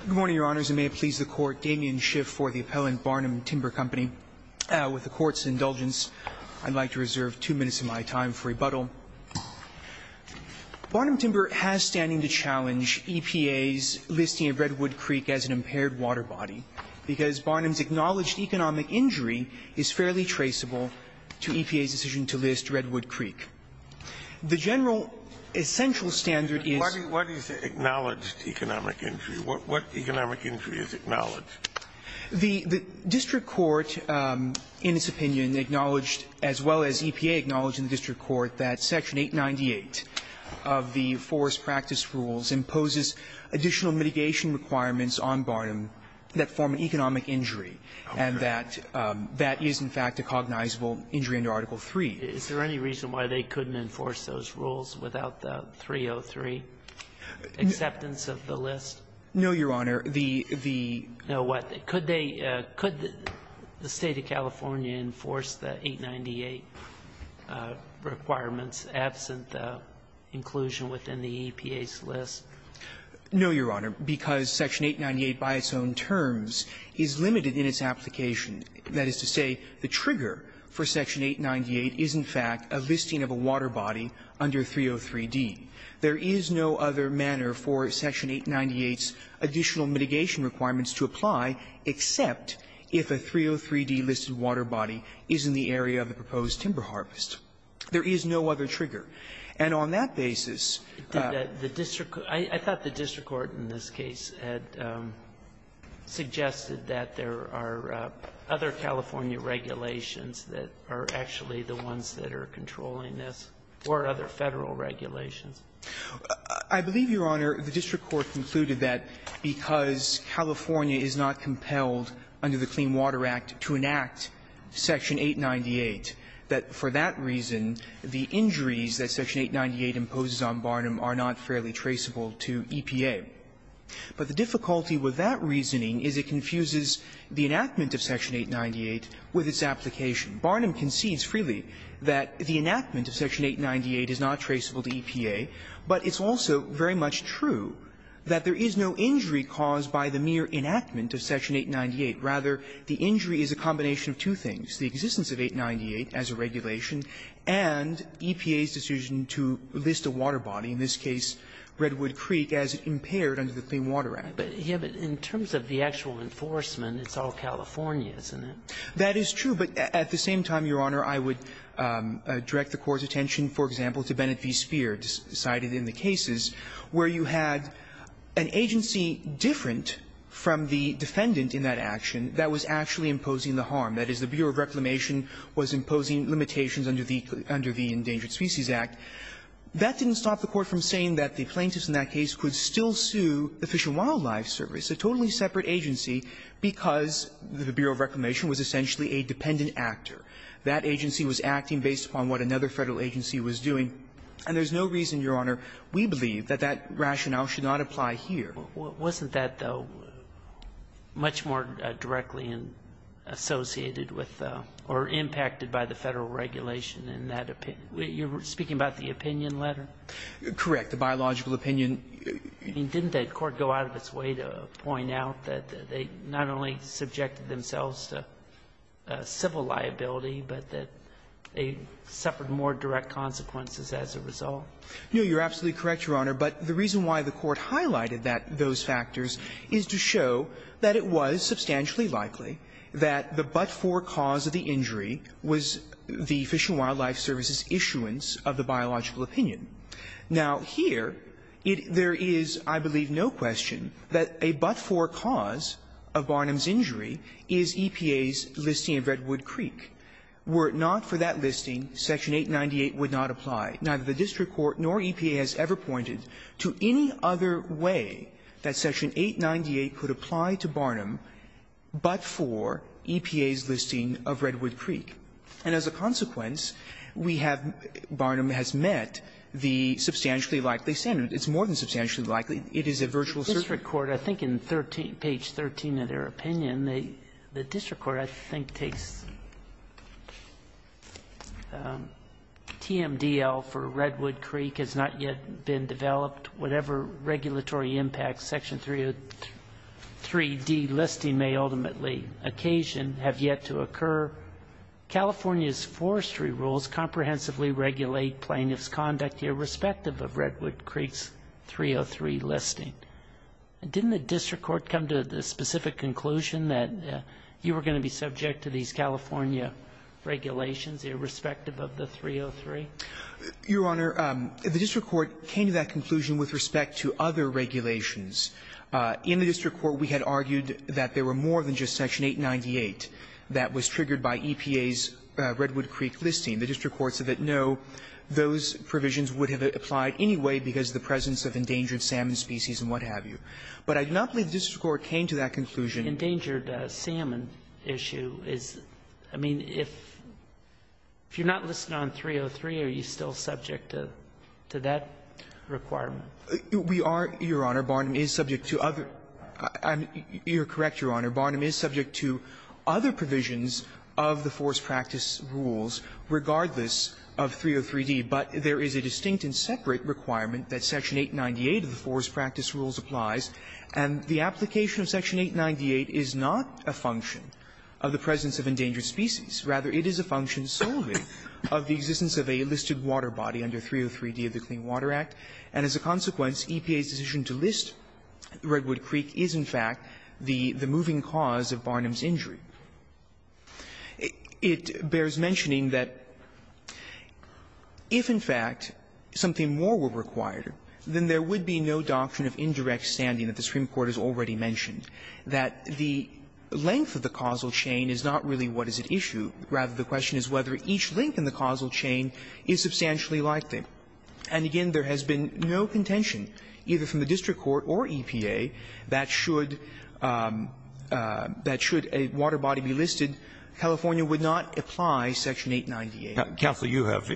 Good morning, Your Honors, and may it please the Court, Damien Schiff for the appellant, Barnum Timber Company. With the Court's indulgence, I'd like to reserve two minutes of my time for rebuttal. Barnum Timber has standing to challenge EPA's listing of Redwood Creek as an impaired water body because Barnum's acknowledged economic injury is fairly traceable to EPA's decision to list Redwood Creek. The general essential standard is... What economic injury is acknowledged? The district court, in its opinion, acknowledged, as well as EPA acknowledged in the district court, that Section 898 of the Forest Practice Rules imposes additional mitigation requirements on Barnum that form an economic injury, and that that is, in fact, a cognizable injury under Article III. Is there any reason why they couldn't enforce those rules without the 303 acceptance of the list? No, Your Honor. The, the... Now, what? Could they, could the State of California enforce the 898 requirements absent inclusion within the EPA's list? No, Your Honor, because Section 898 by its own terms is limited in its application. That is to say, the trigger for Section 898 is, in fact, a listing of a water body under 303d. There is no other manner for Section 898's additional mitigation requirements to apply except if a 303d-listed water body is in the area of the proposed timber harvest. There is no other trigger. And on that basis... I thought the district court in this case had suggested that there are other California regulations that are actually the ones that are controlling this, or other Federal regulations. I believe, Your Honor, the district court concluded that because California is not compelled under the Clean Water Act to enact Section 898, that for that reason the injuries that Section 898 imposes on Barnum are not fairly traceable to EPA. But the difficulty with that reasoning is it confuses the enactment of Section 898 with its application. Barnum concedes freely that the enactment of Section 898 is not traceable to EPA, but it's also very much true that there is no injury caused by the mere enactment of Section 898. Rather, the injury is a combination of two things, the existence of 898 as a regulation and EPA's decision to list a water body, in this case Redwood Creek, as impaired under the Clean Water Act. But in terms of the actual enforcement, it's all California, isn't it? That is true. But at the same time, Your Honor, I would direct the Court's attention, for example, to Bennett v. Speer, cited in the cases, where you had an agency different from the defendant in that action that was actually imposing the harm. That is, the Bureau of Reclamation was imposing limitations under the Endangered Species Act. That didn't stop the Court from saying that the plaintiffs in that case could still sue the Fish and Wildlife Service, a totally separate agency, because the Bureau of Reclamation was essentially a dependent actor. That agency was acting based upon what another Federal agency was doing. And there's no reason, Your Honor, we believe that that rationale should not apply here. Wasn't that, though, much more directly associated with or impacted by the Federal regulation in that opinion? You're speaking about the opinion letter? Correct. The biological opinion. Didn't the Court go out of its way to point out that they not only subjected themselves to civil liability, but that they suffered more direct consequences as a result? No. You're absolutely correct, Your Honor. But the reason why the Court highlighted that, those factors, is to show that it was substantially likely that the but-for cause of the injury was the Fish and Wildlife Service's issuance of the biological opinion. Now, here, it — there is, I believe, no question that a but-for cause of Barnum's injury is EPA's listing of Redwood Creek. Were it not for that listing, Section 898 would not apply. Neither the district court nor EPA has ever pointed to any other way that Section 898 could apply to Barnum but for EPA's listing of Redwood Creek. And as a consequence, we have — Barnum has met the substantially likely standard. It's more than substantially likely. It is a virtual certainty. I think in 13 — page 13 of their opinion, the district court, I think, takes TMDL for Redwood Creek has not yet been developed. Whatever regulatory impact Section 303D listing may ultimately occasion have yet to occur. California's forestry rules comprehensively regulate plaintiff's conduct irrespective of Redwood Creek's 303 listing. Didn't the district court come to the specific conclusion that you were going to be subject to these California regulations irrespective of the 303? Your Honor, the district court came to that conclusion with respect to other regulations. In the district court, we had argued that there were more than just Section 898 that was triggered by EPA's Redwood Creek listing. The district court said that, no, those provisions would have applied anyway because of the presence of endangered salmon species and what have you. But I do not believe the district court came to that conclusion. Endangered salmon issue is — I mean, if — if you're not listing on 303, are you still subject to — to that requirement? We are, Your Honor. Barnum is subject to other — you're correct, Your Honor. Barnum is subject to other provisions of the forest practice rules regardless of 303d, but there is a distinct and separate requirement that Section 898 of the forest practice rules applies, and the application of Section 898 is not a function of the presence of endangered species. Rather, it is a function solely of the existence of a listed water body under 303d of the Clean Water Act, and as a consequence, EPA's decision to list Redwood Creek is, in fact, the moving cause of Barnum's injury. It bears mentioning that if, in fact, something more were required, then there would be no doctrine of indirect standing that the Supreme Court has already mentioned, that the length of the causal chain is not really what is at issue. Rather, the question is whether each link in the causal chain is substantially likely. And again, there has been no contention, either from the district court or EPA, that should — that should a water body be listed, California would not apply Section 898. Now, counsel, you have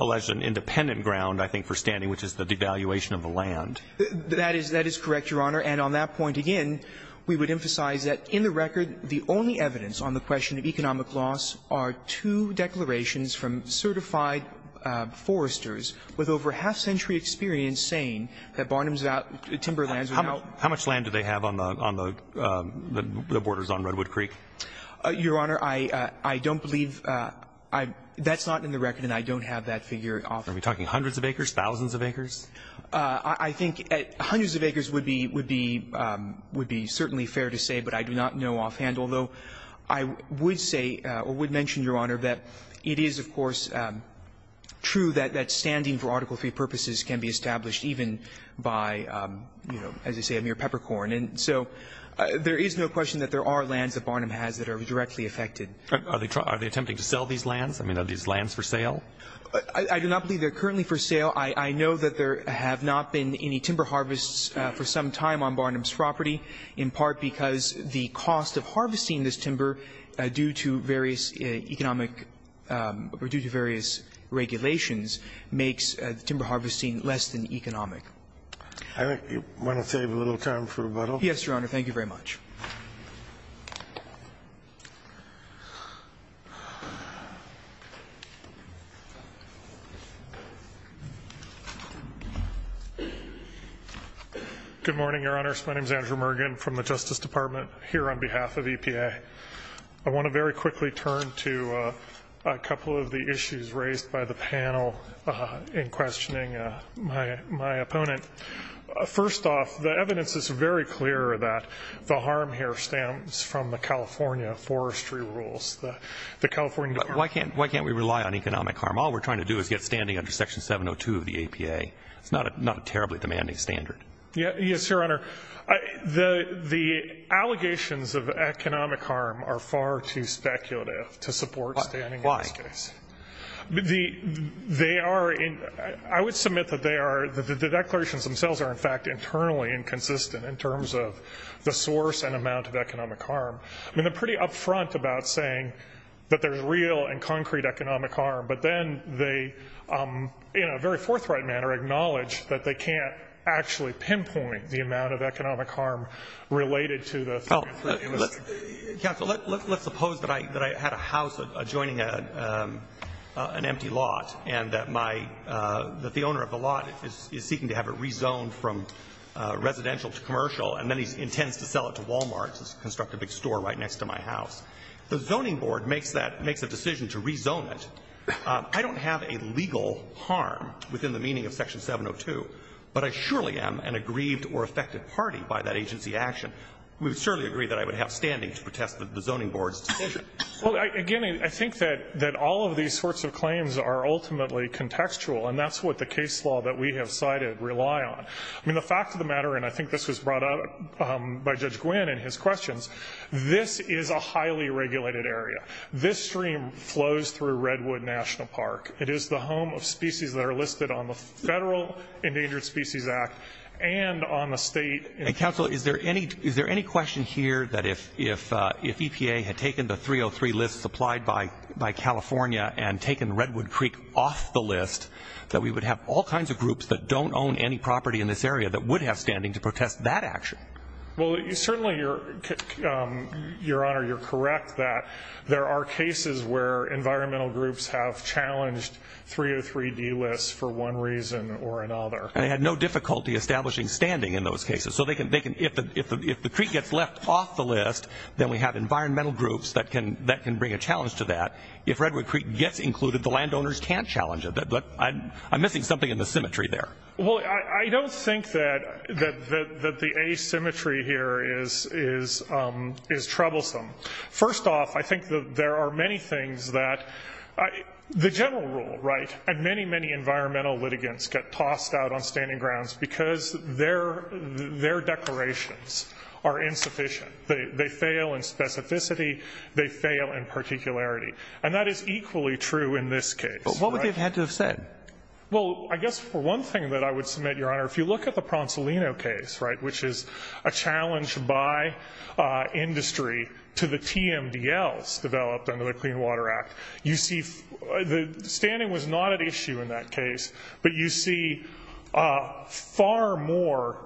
alleged an independent ground, I think, for standing, which is the devaluation of the land. That is — that is correct, Your Honor. And on that point again, we would emphasize that in the record, the only evidence on the question of economic loss are two declarations from certified foresters with over half-century experience saying that Barnum's timber lands are now — How much land do they have on the — on the borders on Redwood Creek? Your Honor, I don't believe — that's not in the record, and I don't have that figure off. Are we talking hundreds of acres, thousands of acres? I think hundreds of acres would be — would be certainly fair to say, but I do not know offhand, although I would say or would mention, Your Honor, that it is, of course, true that standing for Article III purposes can be established even by, you know, as you say, a mere peppercorn. And so there is no question that there are lands that Barnum has that are directly affected. Are they attempting to sell these lands? I mean, are these lands for sale? I do not believe they are currently for sale. I know that there have not been any timber harvests for some time on Barnum's property, in part because the cost of harvesting this timber due to various economic — or due to various regulations makes the timber harvesting less than economic. I think you want to save a little time for rebuttal? Yes, Your Honor. Thank you very much. Good morning, Your Honors. My name is Andrew Mergen from the Justice Department here on behalf of EPA. I want to very quickly turn to a couple of the issues raised by the panel in questioning my opponent. First off, the evidence is very clear that the harm here stems from the California forestry rules. The California — Why can't we rely on economic harm? All we're trying to do is get standing under Section 702 of the APA. It's not a terribly demanding standard. Yes, Your Honor. The allegations of economic harm are far too speculative to support standing in this case. They are — I would submit that they are — the declarations themselves are, in fact, internally inconsistent in terms of the source and amount of economic harm. I mean, they're pretty upfront about saying that there's real and concrete economic harm, but then they, in a very forthright manner, acknowledge that they can't actually pinpoint the amount of economic harm related to the — Counsel, let's suppose that I had a house adjoining an empty lot and that my — that the owner of the lot is seeking to have it rezoned from residential to commercial, and then he intends to sell it to Walmart to construct a big store right next to my house. The zoning board makes that — makes a decision to rezone it. I don't have a legal harm within the meaning of Section 702, but I surely am an aggrieved or affected party by that agency action. We would surely agree that I would have standing to protest the zoning board's decision. Well, again, I think that all of these sorts of claims are ultimately contextual, and that's what the case law that we have cited rely on. I mean, the fact of the matter — and I think this was brought up by Judge Gwynne in his questions — this is a highly regulated area. This stream flows through Redwood National Park. It is the home of species that are listed on the Federal Endangered Species Act and on the state — Counsel, is there any question here that if EPA had taken the 303 list supplied by California and taken Redwood Creek off the list, that we would have all kinds of groups that don't own any property in this area that would have standing to protest that action? Well, certainly, Your Honor, you're correct that there are cases where environmental groups have challenged 303D lists for one reason or another. And they had no difficulty establishing standing in those cases. So they can — if the creek gets left off the list, then we have environmental groups that can bring a challenge to that. If Redwood Creek gets included, the landowners can't challenge it. But I'm missing something in the symmetry there. Well, I don't think that the asymmetry here is troublesome. First off, I think that there are many things that — the general rule, right, and many, many environmental litigants get tossed out on standing grounds because their declarations are insufficient. They fail in specificity. They fail in particularity. And that is equally true in this case. But what would they have had to have said? Well, I guess for one thing that I would submit, Your Honor, if you look at the Pronsolino case, right, which is a challenge by industry to the TMDLs developed under the Clean Water Act, you see — the standing was not an issue in that case. But you see far more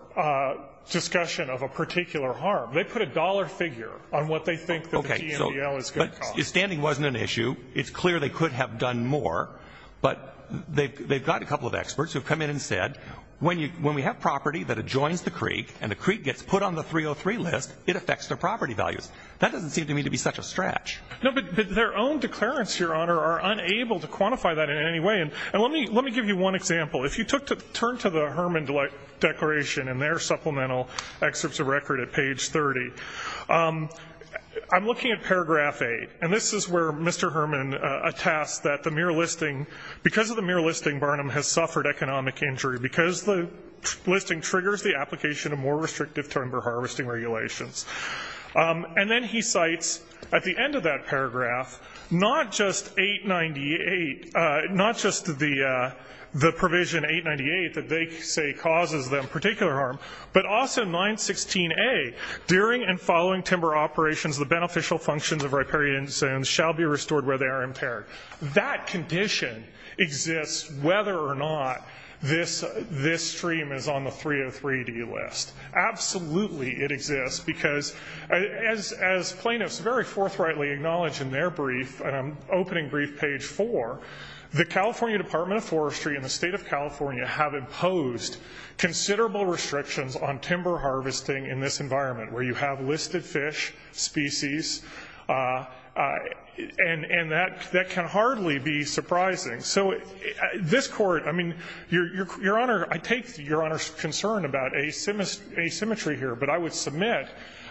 discussion of a particular harm. They put a dollar figure on what they think that the TMDL is going to cost. Okay. So — but standing wasn't an issue. It's clear they could have done more. But they've got a couple of experts who have come in and said, when we have property that adjoins the creek and the creek gets put on the 303 list, it affects their property values. That doesn't seem to me to be such a stretch. No, but their own declarants, Your Honor, are unable to quantify that in any way. And let me — let me give you one example. If you took — turn to the Herman declaration and their supplemental excerpts of record at page 30, I'm looking at paragraph 8. And this is where Mr. Herman attests that the mere listing — because of the mere listing, has suffered economic injury. Because the listing triggers the application of more restrictive timber harvesting regulations. And then he cites, at the end of that paragraph, not just 898 — not just the provision 898 that they say causes them particular harm, but also 916A, during and following timber operations, the beneficial functions of riparian zones shall be restored where they are impaired. That condition exists whether or not this stream is on the 303D list. Absolutely, it exists. Because as plaintiffs very forthrightly acknowledge in their brief — and I'm opening brief page 4 — the California Department of Forestry and the state of California have imposed considerable restrictions on timber harvesting in this environment, where you have listed fish, species, and that can hardly be surprising. So this Court — I mean, Your Honor, I take Your Honor's concern about asymmetry here, but I would submit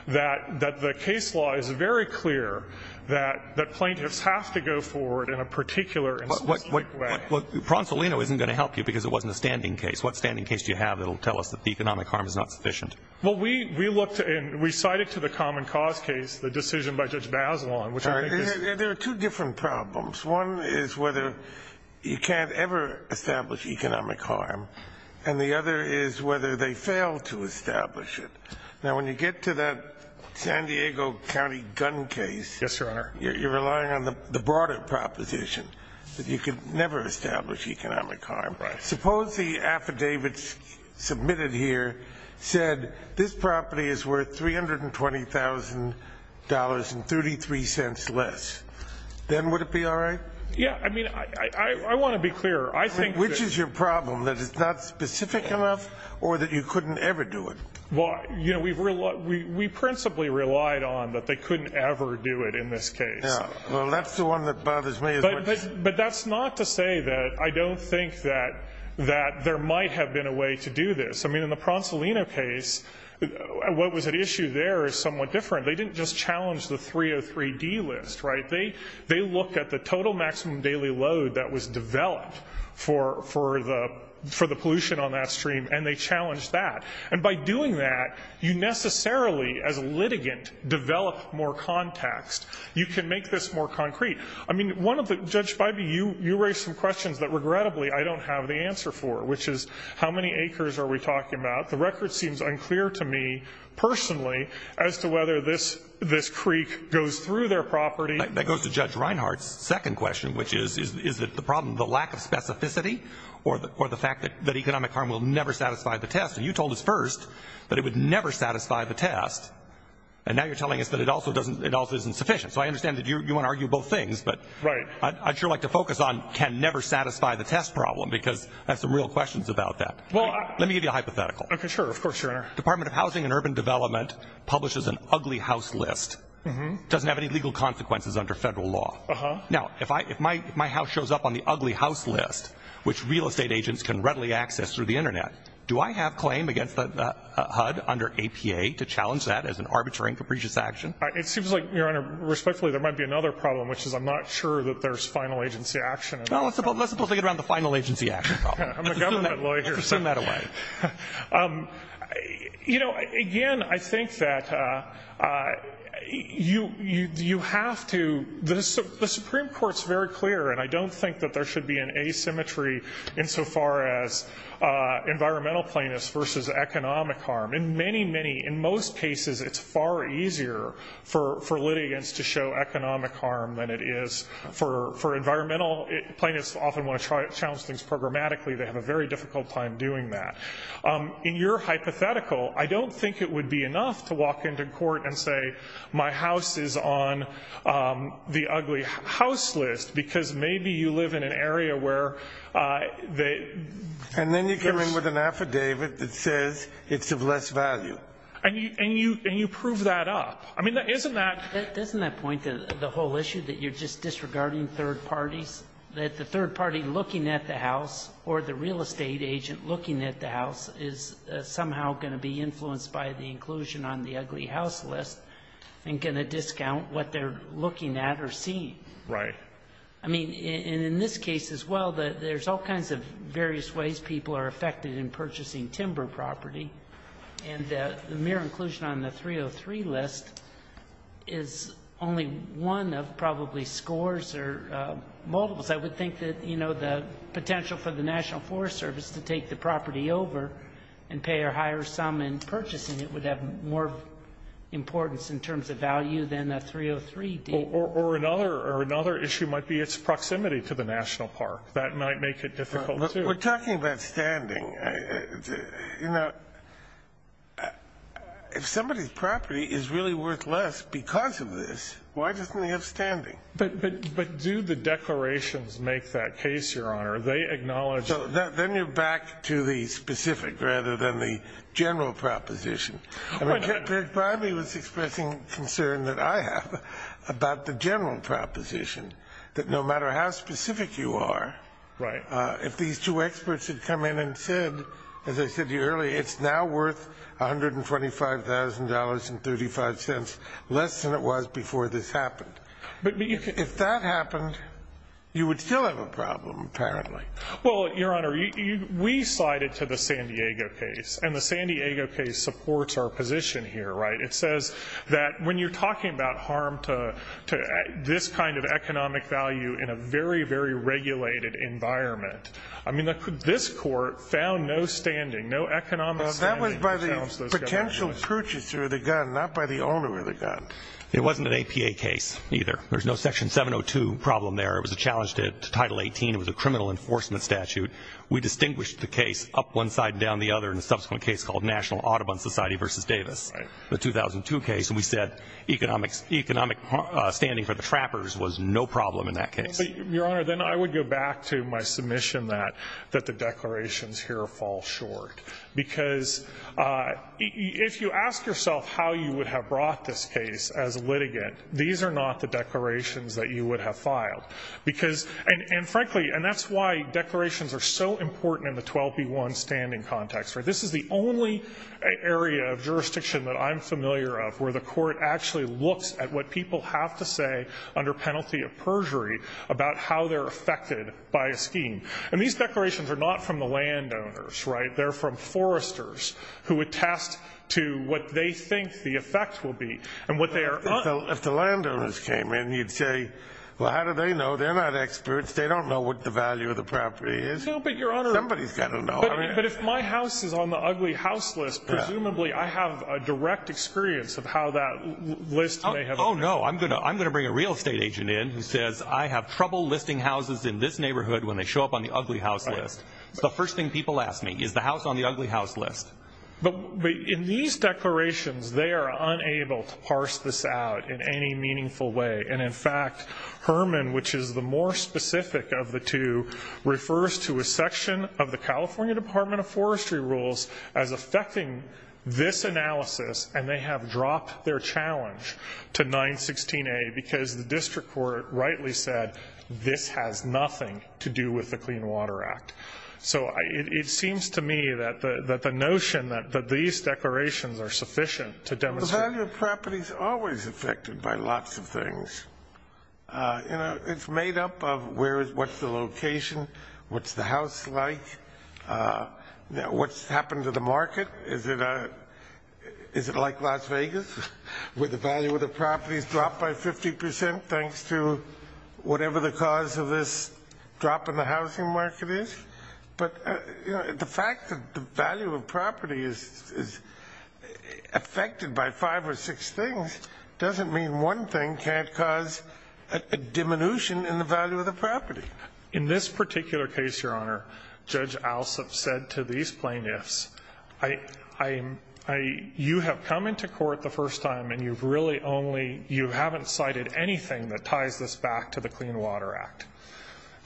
that the case law is very clear that plaintiffs have to go forward in a particular and specific way. But Pronsolino isn't going to help you because it wasn't a standing case. What standing case do you have that will tell us that the economic harm is not sufficient? Well, we looked and we cited to the common cause case the decision by Judge Bazelon, which I think is — There are two different problems. One is whether you can't ever establish economic harm, and the other is whether they fail to establish it. Now, when you get to that San Diego County gun case — Yes, Your Honor. — you're relying on the broader proposition that you can never establish economic harm. Right. Suppose the affidavit submitted here said, this property is worth $320,000.33 less. Then would it be all right? Yeah. I mean, I want to be clear. I think — Which is your problem? That it's not specific enough or that you couldn't ever do it? Well, you know, we principally relied on that they couldn't ever do it in this case. Yeah. Well, that's the one that bothers me as much. But that's not to say that I don't think that there might have been a way to do this. I mean, in the Pronsolino case, what was at issue there is somewhat different. They didn't just challenge the 303D list, right? They looked at the total maximum daily load that was developed for the pollution on that stream, and they challenged that. And by doing that, you necessarily, as a litigant, develop more context. You can make this more concrete. I mean, Judge Bybee, you raised some questions that, regrettably, I don't have the answer for, which is, how many acres are we talking about? The record seems unclear to me, personally, as to whether this creek goes through their property. That goes to Judge Reinhart's second question, which is, is the problem the lack of specificity or the fact that economic harm will never satisfy the test? And you told us first that it would never satisfy the test. And now you're telling us that it also isn't sufficient. So I understand that you want to argue both things. But I'd sure like to focus on can never satisfy the test problem, because I have some real questions about that. Well, let me give you a hypothetical. OK, sure. Of course, Your Honor. Department of Housing and Urban Development publishes an ugly house list, doesn't have any legal consequences under federal law. Now, if my house shows up on the ugly house list, which real estate agents can readily access through the internet, do I have claim against the HUD under APA to challenge that as an arbitrary and capricious action? It seems like, Your Honor, respectfully, there might be another problem, which is I'm not sure that there's final agency action. Well, let's suppose they get around the final agency action problem. I'm a government lawyer. Let's assume that away. You know, again, I think that you have to the Supreme Court's very clear, and I don't think that there should be an asymmetry insofar as environmental plainness versus economic harm. In most cases, it's far easier for litigants to show economic harm than it is for environmental. Plaintiffs often want to challenge things programmatically. They have a very difficult time doing that. In your hypothetical, I don't think it would be enough to walk into court and say, my house is on the ugly house list, because maybe you live in an area where they... And then you come in with an affidavit that says it's of less value. And you prove that up. I mean, isn't that... Doesn't that point to the whole issue that you're just disregarding third parties, that the third party looking at the house or the real estate agent looking at the house is somehow going to be influenced by the inclusion on the ugly house list and going to discount what they're looking at or seeing? Right. I mean, and in this case as well, there's all kinds of various ways people are affected in purchasing timber property. And the mere inclusion on the 303 list is only one of probably scores or multiples. I would think that, you know, the potential for the National Forest Service to take the property over and pay a higher sum in purchasing it would have more importance in terms of value than a 303 deed. Or another issue might be its proximity to the National Park. That might make it difficult, too. We're talking about standing. You know, if somebody's property is really worth less because of this, why doesn't he have standing? But do the declarations make that case, Your Honor? They acknowledge... So then you're back to the specific rather than the general proposition. Bradley was expressing concern that I have about the general proposition that no matter how specific you are, if these two experts had come in and said, as I said to you earlier, it's now worth $125,000.35, less than it was before this happened. If that happened, you would still have a problem, apparently. Well, Your Honor, we cited to the San Diego case. And the San Diego case supports our position here, right? It says that when you're talking about harm to this kind of economic value in a very, very regulated environment, I mean, this court found no standing, no economic standing. That was by the potential purchaser of the gun, not by the owner of the gun. It wasn't an APA case, either. There's no Section 702 problem there. It was a challenge to Title 18. It was a criminal enforcement statute. We distinguished the case up one side and down the other in a subsequent case called National Audubon Society v. Davis, the 2002 case. And we said economic standing for the trappers was no problem in that case. Your Honor, then I would go back to my submission that the declarations here fall short. Because if you ask yourself how you would have brought this case as litigant, these are not the declarations that you would have filed. Because, and frankly, and that's why declarations are so important in the 12b1 standing context, right? This is the only area of jurisdiction that I'm familiar of where the court actually looks at what people have to say under penalty of perjury about how they're affected by a scheme. And these declarations are not from the landowners, right? They're from foresters who attest to what they think the effect will be. And what they are— If the landowners came in, you'd say, well, how do they know? They're not experts. They don't know what the value of the property is. No, but Your Honor— Somebody's got to know. But if my house is on the ugly house list, presumably I have a direct experience of how that list may have— Oh, no. I'm going to bring a real estate agent in who says I have trouble listing houses in this neighborhood when they show up on the ugly house list. It's the first thing people ask me, is the house on the ugly house list? But in these declarations, they are unable to parse this out in any meaningful way. And in fact, Herman, which is the more specific of the two, refers to a section of the California Department of Forestry rules as affecting this analysis, and they have dropped their challenge to 916A because the district court rightly said this has nothing to do with the Clean Water Act. So it seems to me that the notion that these declarations are sufficient to demonstrate— But the value of property is always affected by lots of things. You know, it's made up of what's the location, what's the house like, what's happened to the market. Is it like Las Vegas, where the value of the property has dropped by 50 percent thanks to whatever the cause of this drop in the housing market is? But the fact that the value of property is affected by five or six things doesn't mean one thing can't cause a diminution in the value of the property. In this particular case, Your Honor, Judge Alsup said to these plaintiffs, you have come into court the first time and you haven't cited anything that ties this back to the Clean Water Act.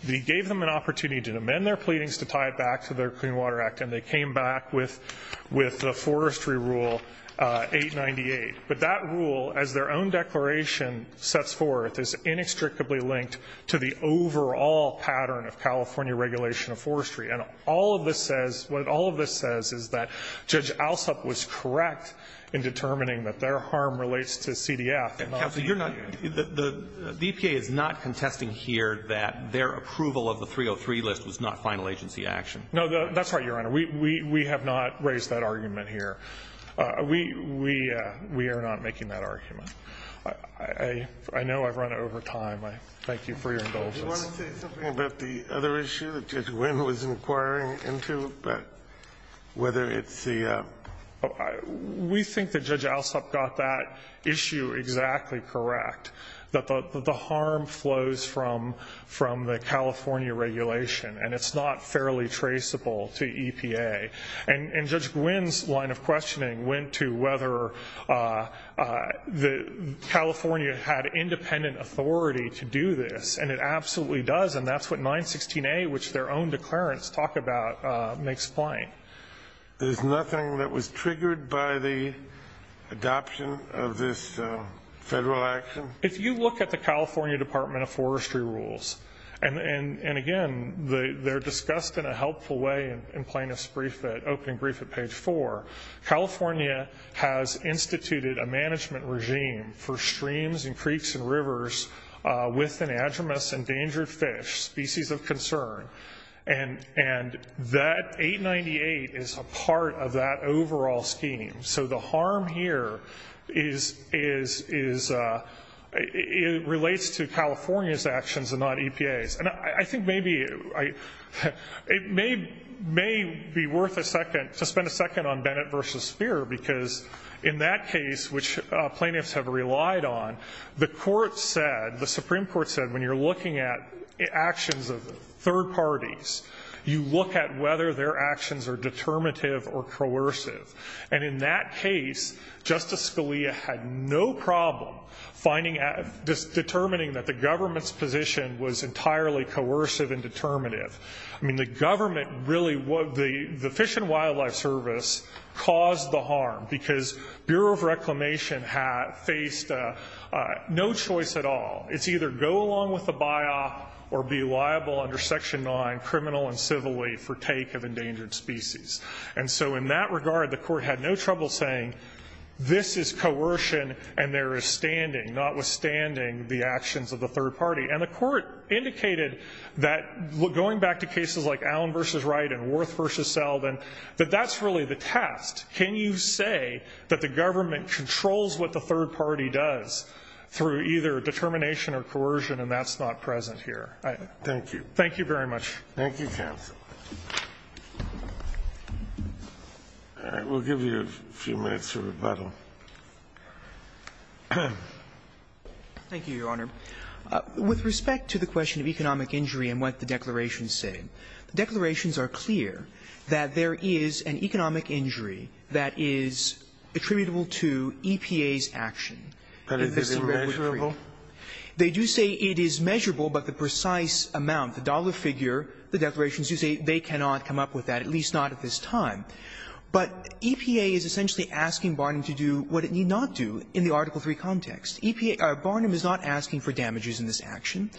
He gave them an opportunity to amend their pleadings to tie it back to their Clean Water Act, and they came back with the Forestry Rule 898. But that rule, as their own declaration sets forth, is inextricably linked to the overall pattern of California regulation of forestry. And all of this says—what all of this says is that Judge Alsup was correct in determining that their harm relates to CDF. Counsel, you're not—the EPA is not contesting here that their approval of the 303 list was not final agency action. No, that's right, Your Honor. We have not raised that argument here. We are not making that argument. I know I've run over time. I thank you for your indulgence. Do you want to say something about the other issue that Judge Wynn was inquiring into, whether it's the— We think that Judge Alsup got that issue exactly correct, that the harm flows from the California regulation, and it's not fairly traceable to EPA. And Judge Wynn's line of questioning went to whether California had independent authority to do this, and it absolutely does. And that's what 916A, which their own declarants talk about, makes plain. There's nothing that was triggered by the adoption of this federal action? If you look at the California Department of Forestry rules, and again, they're discussed in a helpful way in Plaintiff's opening brief at page 4. California has instituted a management regime for streams and creeks and rivers with an is a part of that overall scheme. So the harm here is—it relates to California's actions and not EPA's. And I think maybe—it may be worth a second—to spend a second on Bennett v. Speer, because in that case, which plaintiffs have relied on, the court said—the Supreme Court said when you're looking at actions of third parties, you look at whether their actions are determinative or coercive. And in that case, Justice Scalia had no problem determining that the government's position was entirely coercive and determinative. I mean, the government really—the Fish and Wildlife Service caused the harm, because Bureau of Reclamation faced no choice at all. It's either go along with the buy-off or be liable under Section 9, criminal and civilly, for take of endangered species. And so in that regard, the court had no trouble saying this is coercion and there is standing, notwithstanding the actions of the third party. And the court indicated that going back to cases like Allen v. Wright and Worth v. Selden, that that's really the test. Can you say that the government controls what the third party does through either determination or coercion, and that's not present here? Thank you. Thank you very much. Thank you, counsel. All right. We'll give you a few minutes for rebuttal. Thank you, Your Honor. With respect to the question of economic injury and what the declarations say, the declarations are clear that there is an economic injury that is attributable to EPA's action in this case. But is it measurable? They do say it is measurable, but the precise amount, the dollar figure, the declarations do say they cannot come up with that, at least not at this time. But EPA is essentially asking Barnum to do what it need not do in the Article III context. EPA or Barnum is not asking for damages in this action.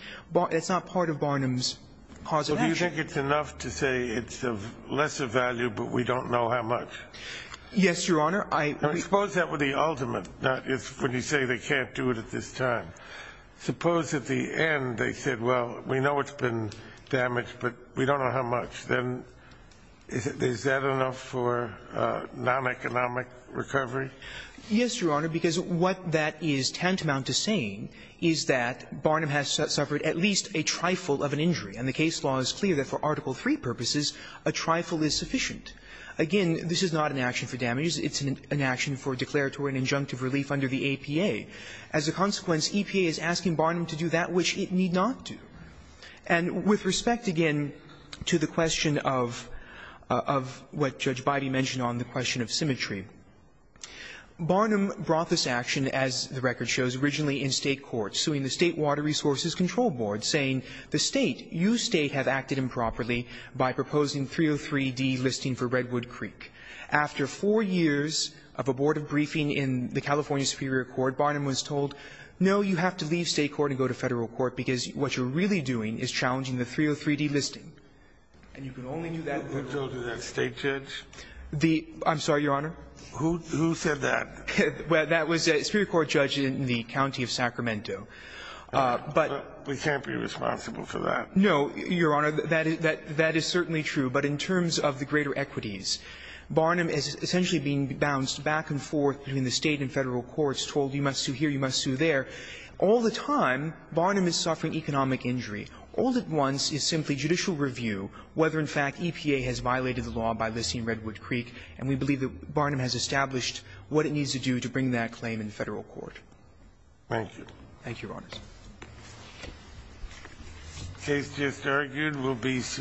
It's not part of Barnum's causability. Do you think it's enough to say it's of lesser value, but we don't know how much? Yes, Your Honor. Suppose that were the ultimate, when you say they can't do it at this time. Suppose at the end they said, well, we know it's been damaged, but we don't know how much. Then is that enough for non-economic recovery? Yes, Your Honor, because what that is tantamount to saying is that Barnum has suffered at least a trifle of an injury. And the case law is clear that for Article III purposes, a trifle is sufficient. Again, this is not an action for damages. It's an action for declaratory and injunctive relief under the APA. As a consequence, EPA is asking Barnum to do that which it need not do. And with respect, again, to the question of what Judge Beide mentioned on the question of symmetry, Barnum brought this action, as the record shows, originally in State Water Resources Control Board, saying the State, you State, have acted improperly by proposing 303D listing for Redwood Creek. After four years of a Board of Briefing in the California Superior Court, Barnum was told, no, you have to leave State court and go to Federal court, because what you're really doing is challenging the 303D listing. And you can only do that with the State judge. I'm sorry, Your Honor? Who said that? Well, that was a Superior Court judge in the county of Sacramento. But we can't be responsible for that. No, Your Honor. That is certainly true. But in terms of the greater equities, Barnum is essentially being bounced back and forth between the State and Federal courts, told you must sue here, you must sue there. All the time, Barnum is suffering economic injury. All at once is simply judicial review whether, in fact, EPA has violated the law by to bring that claim in Federal court. Thank you. Thank you, Your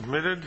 Honors.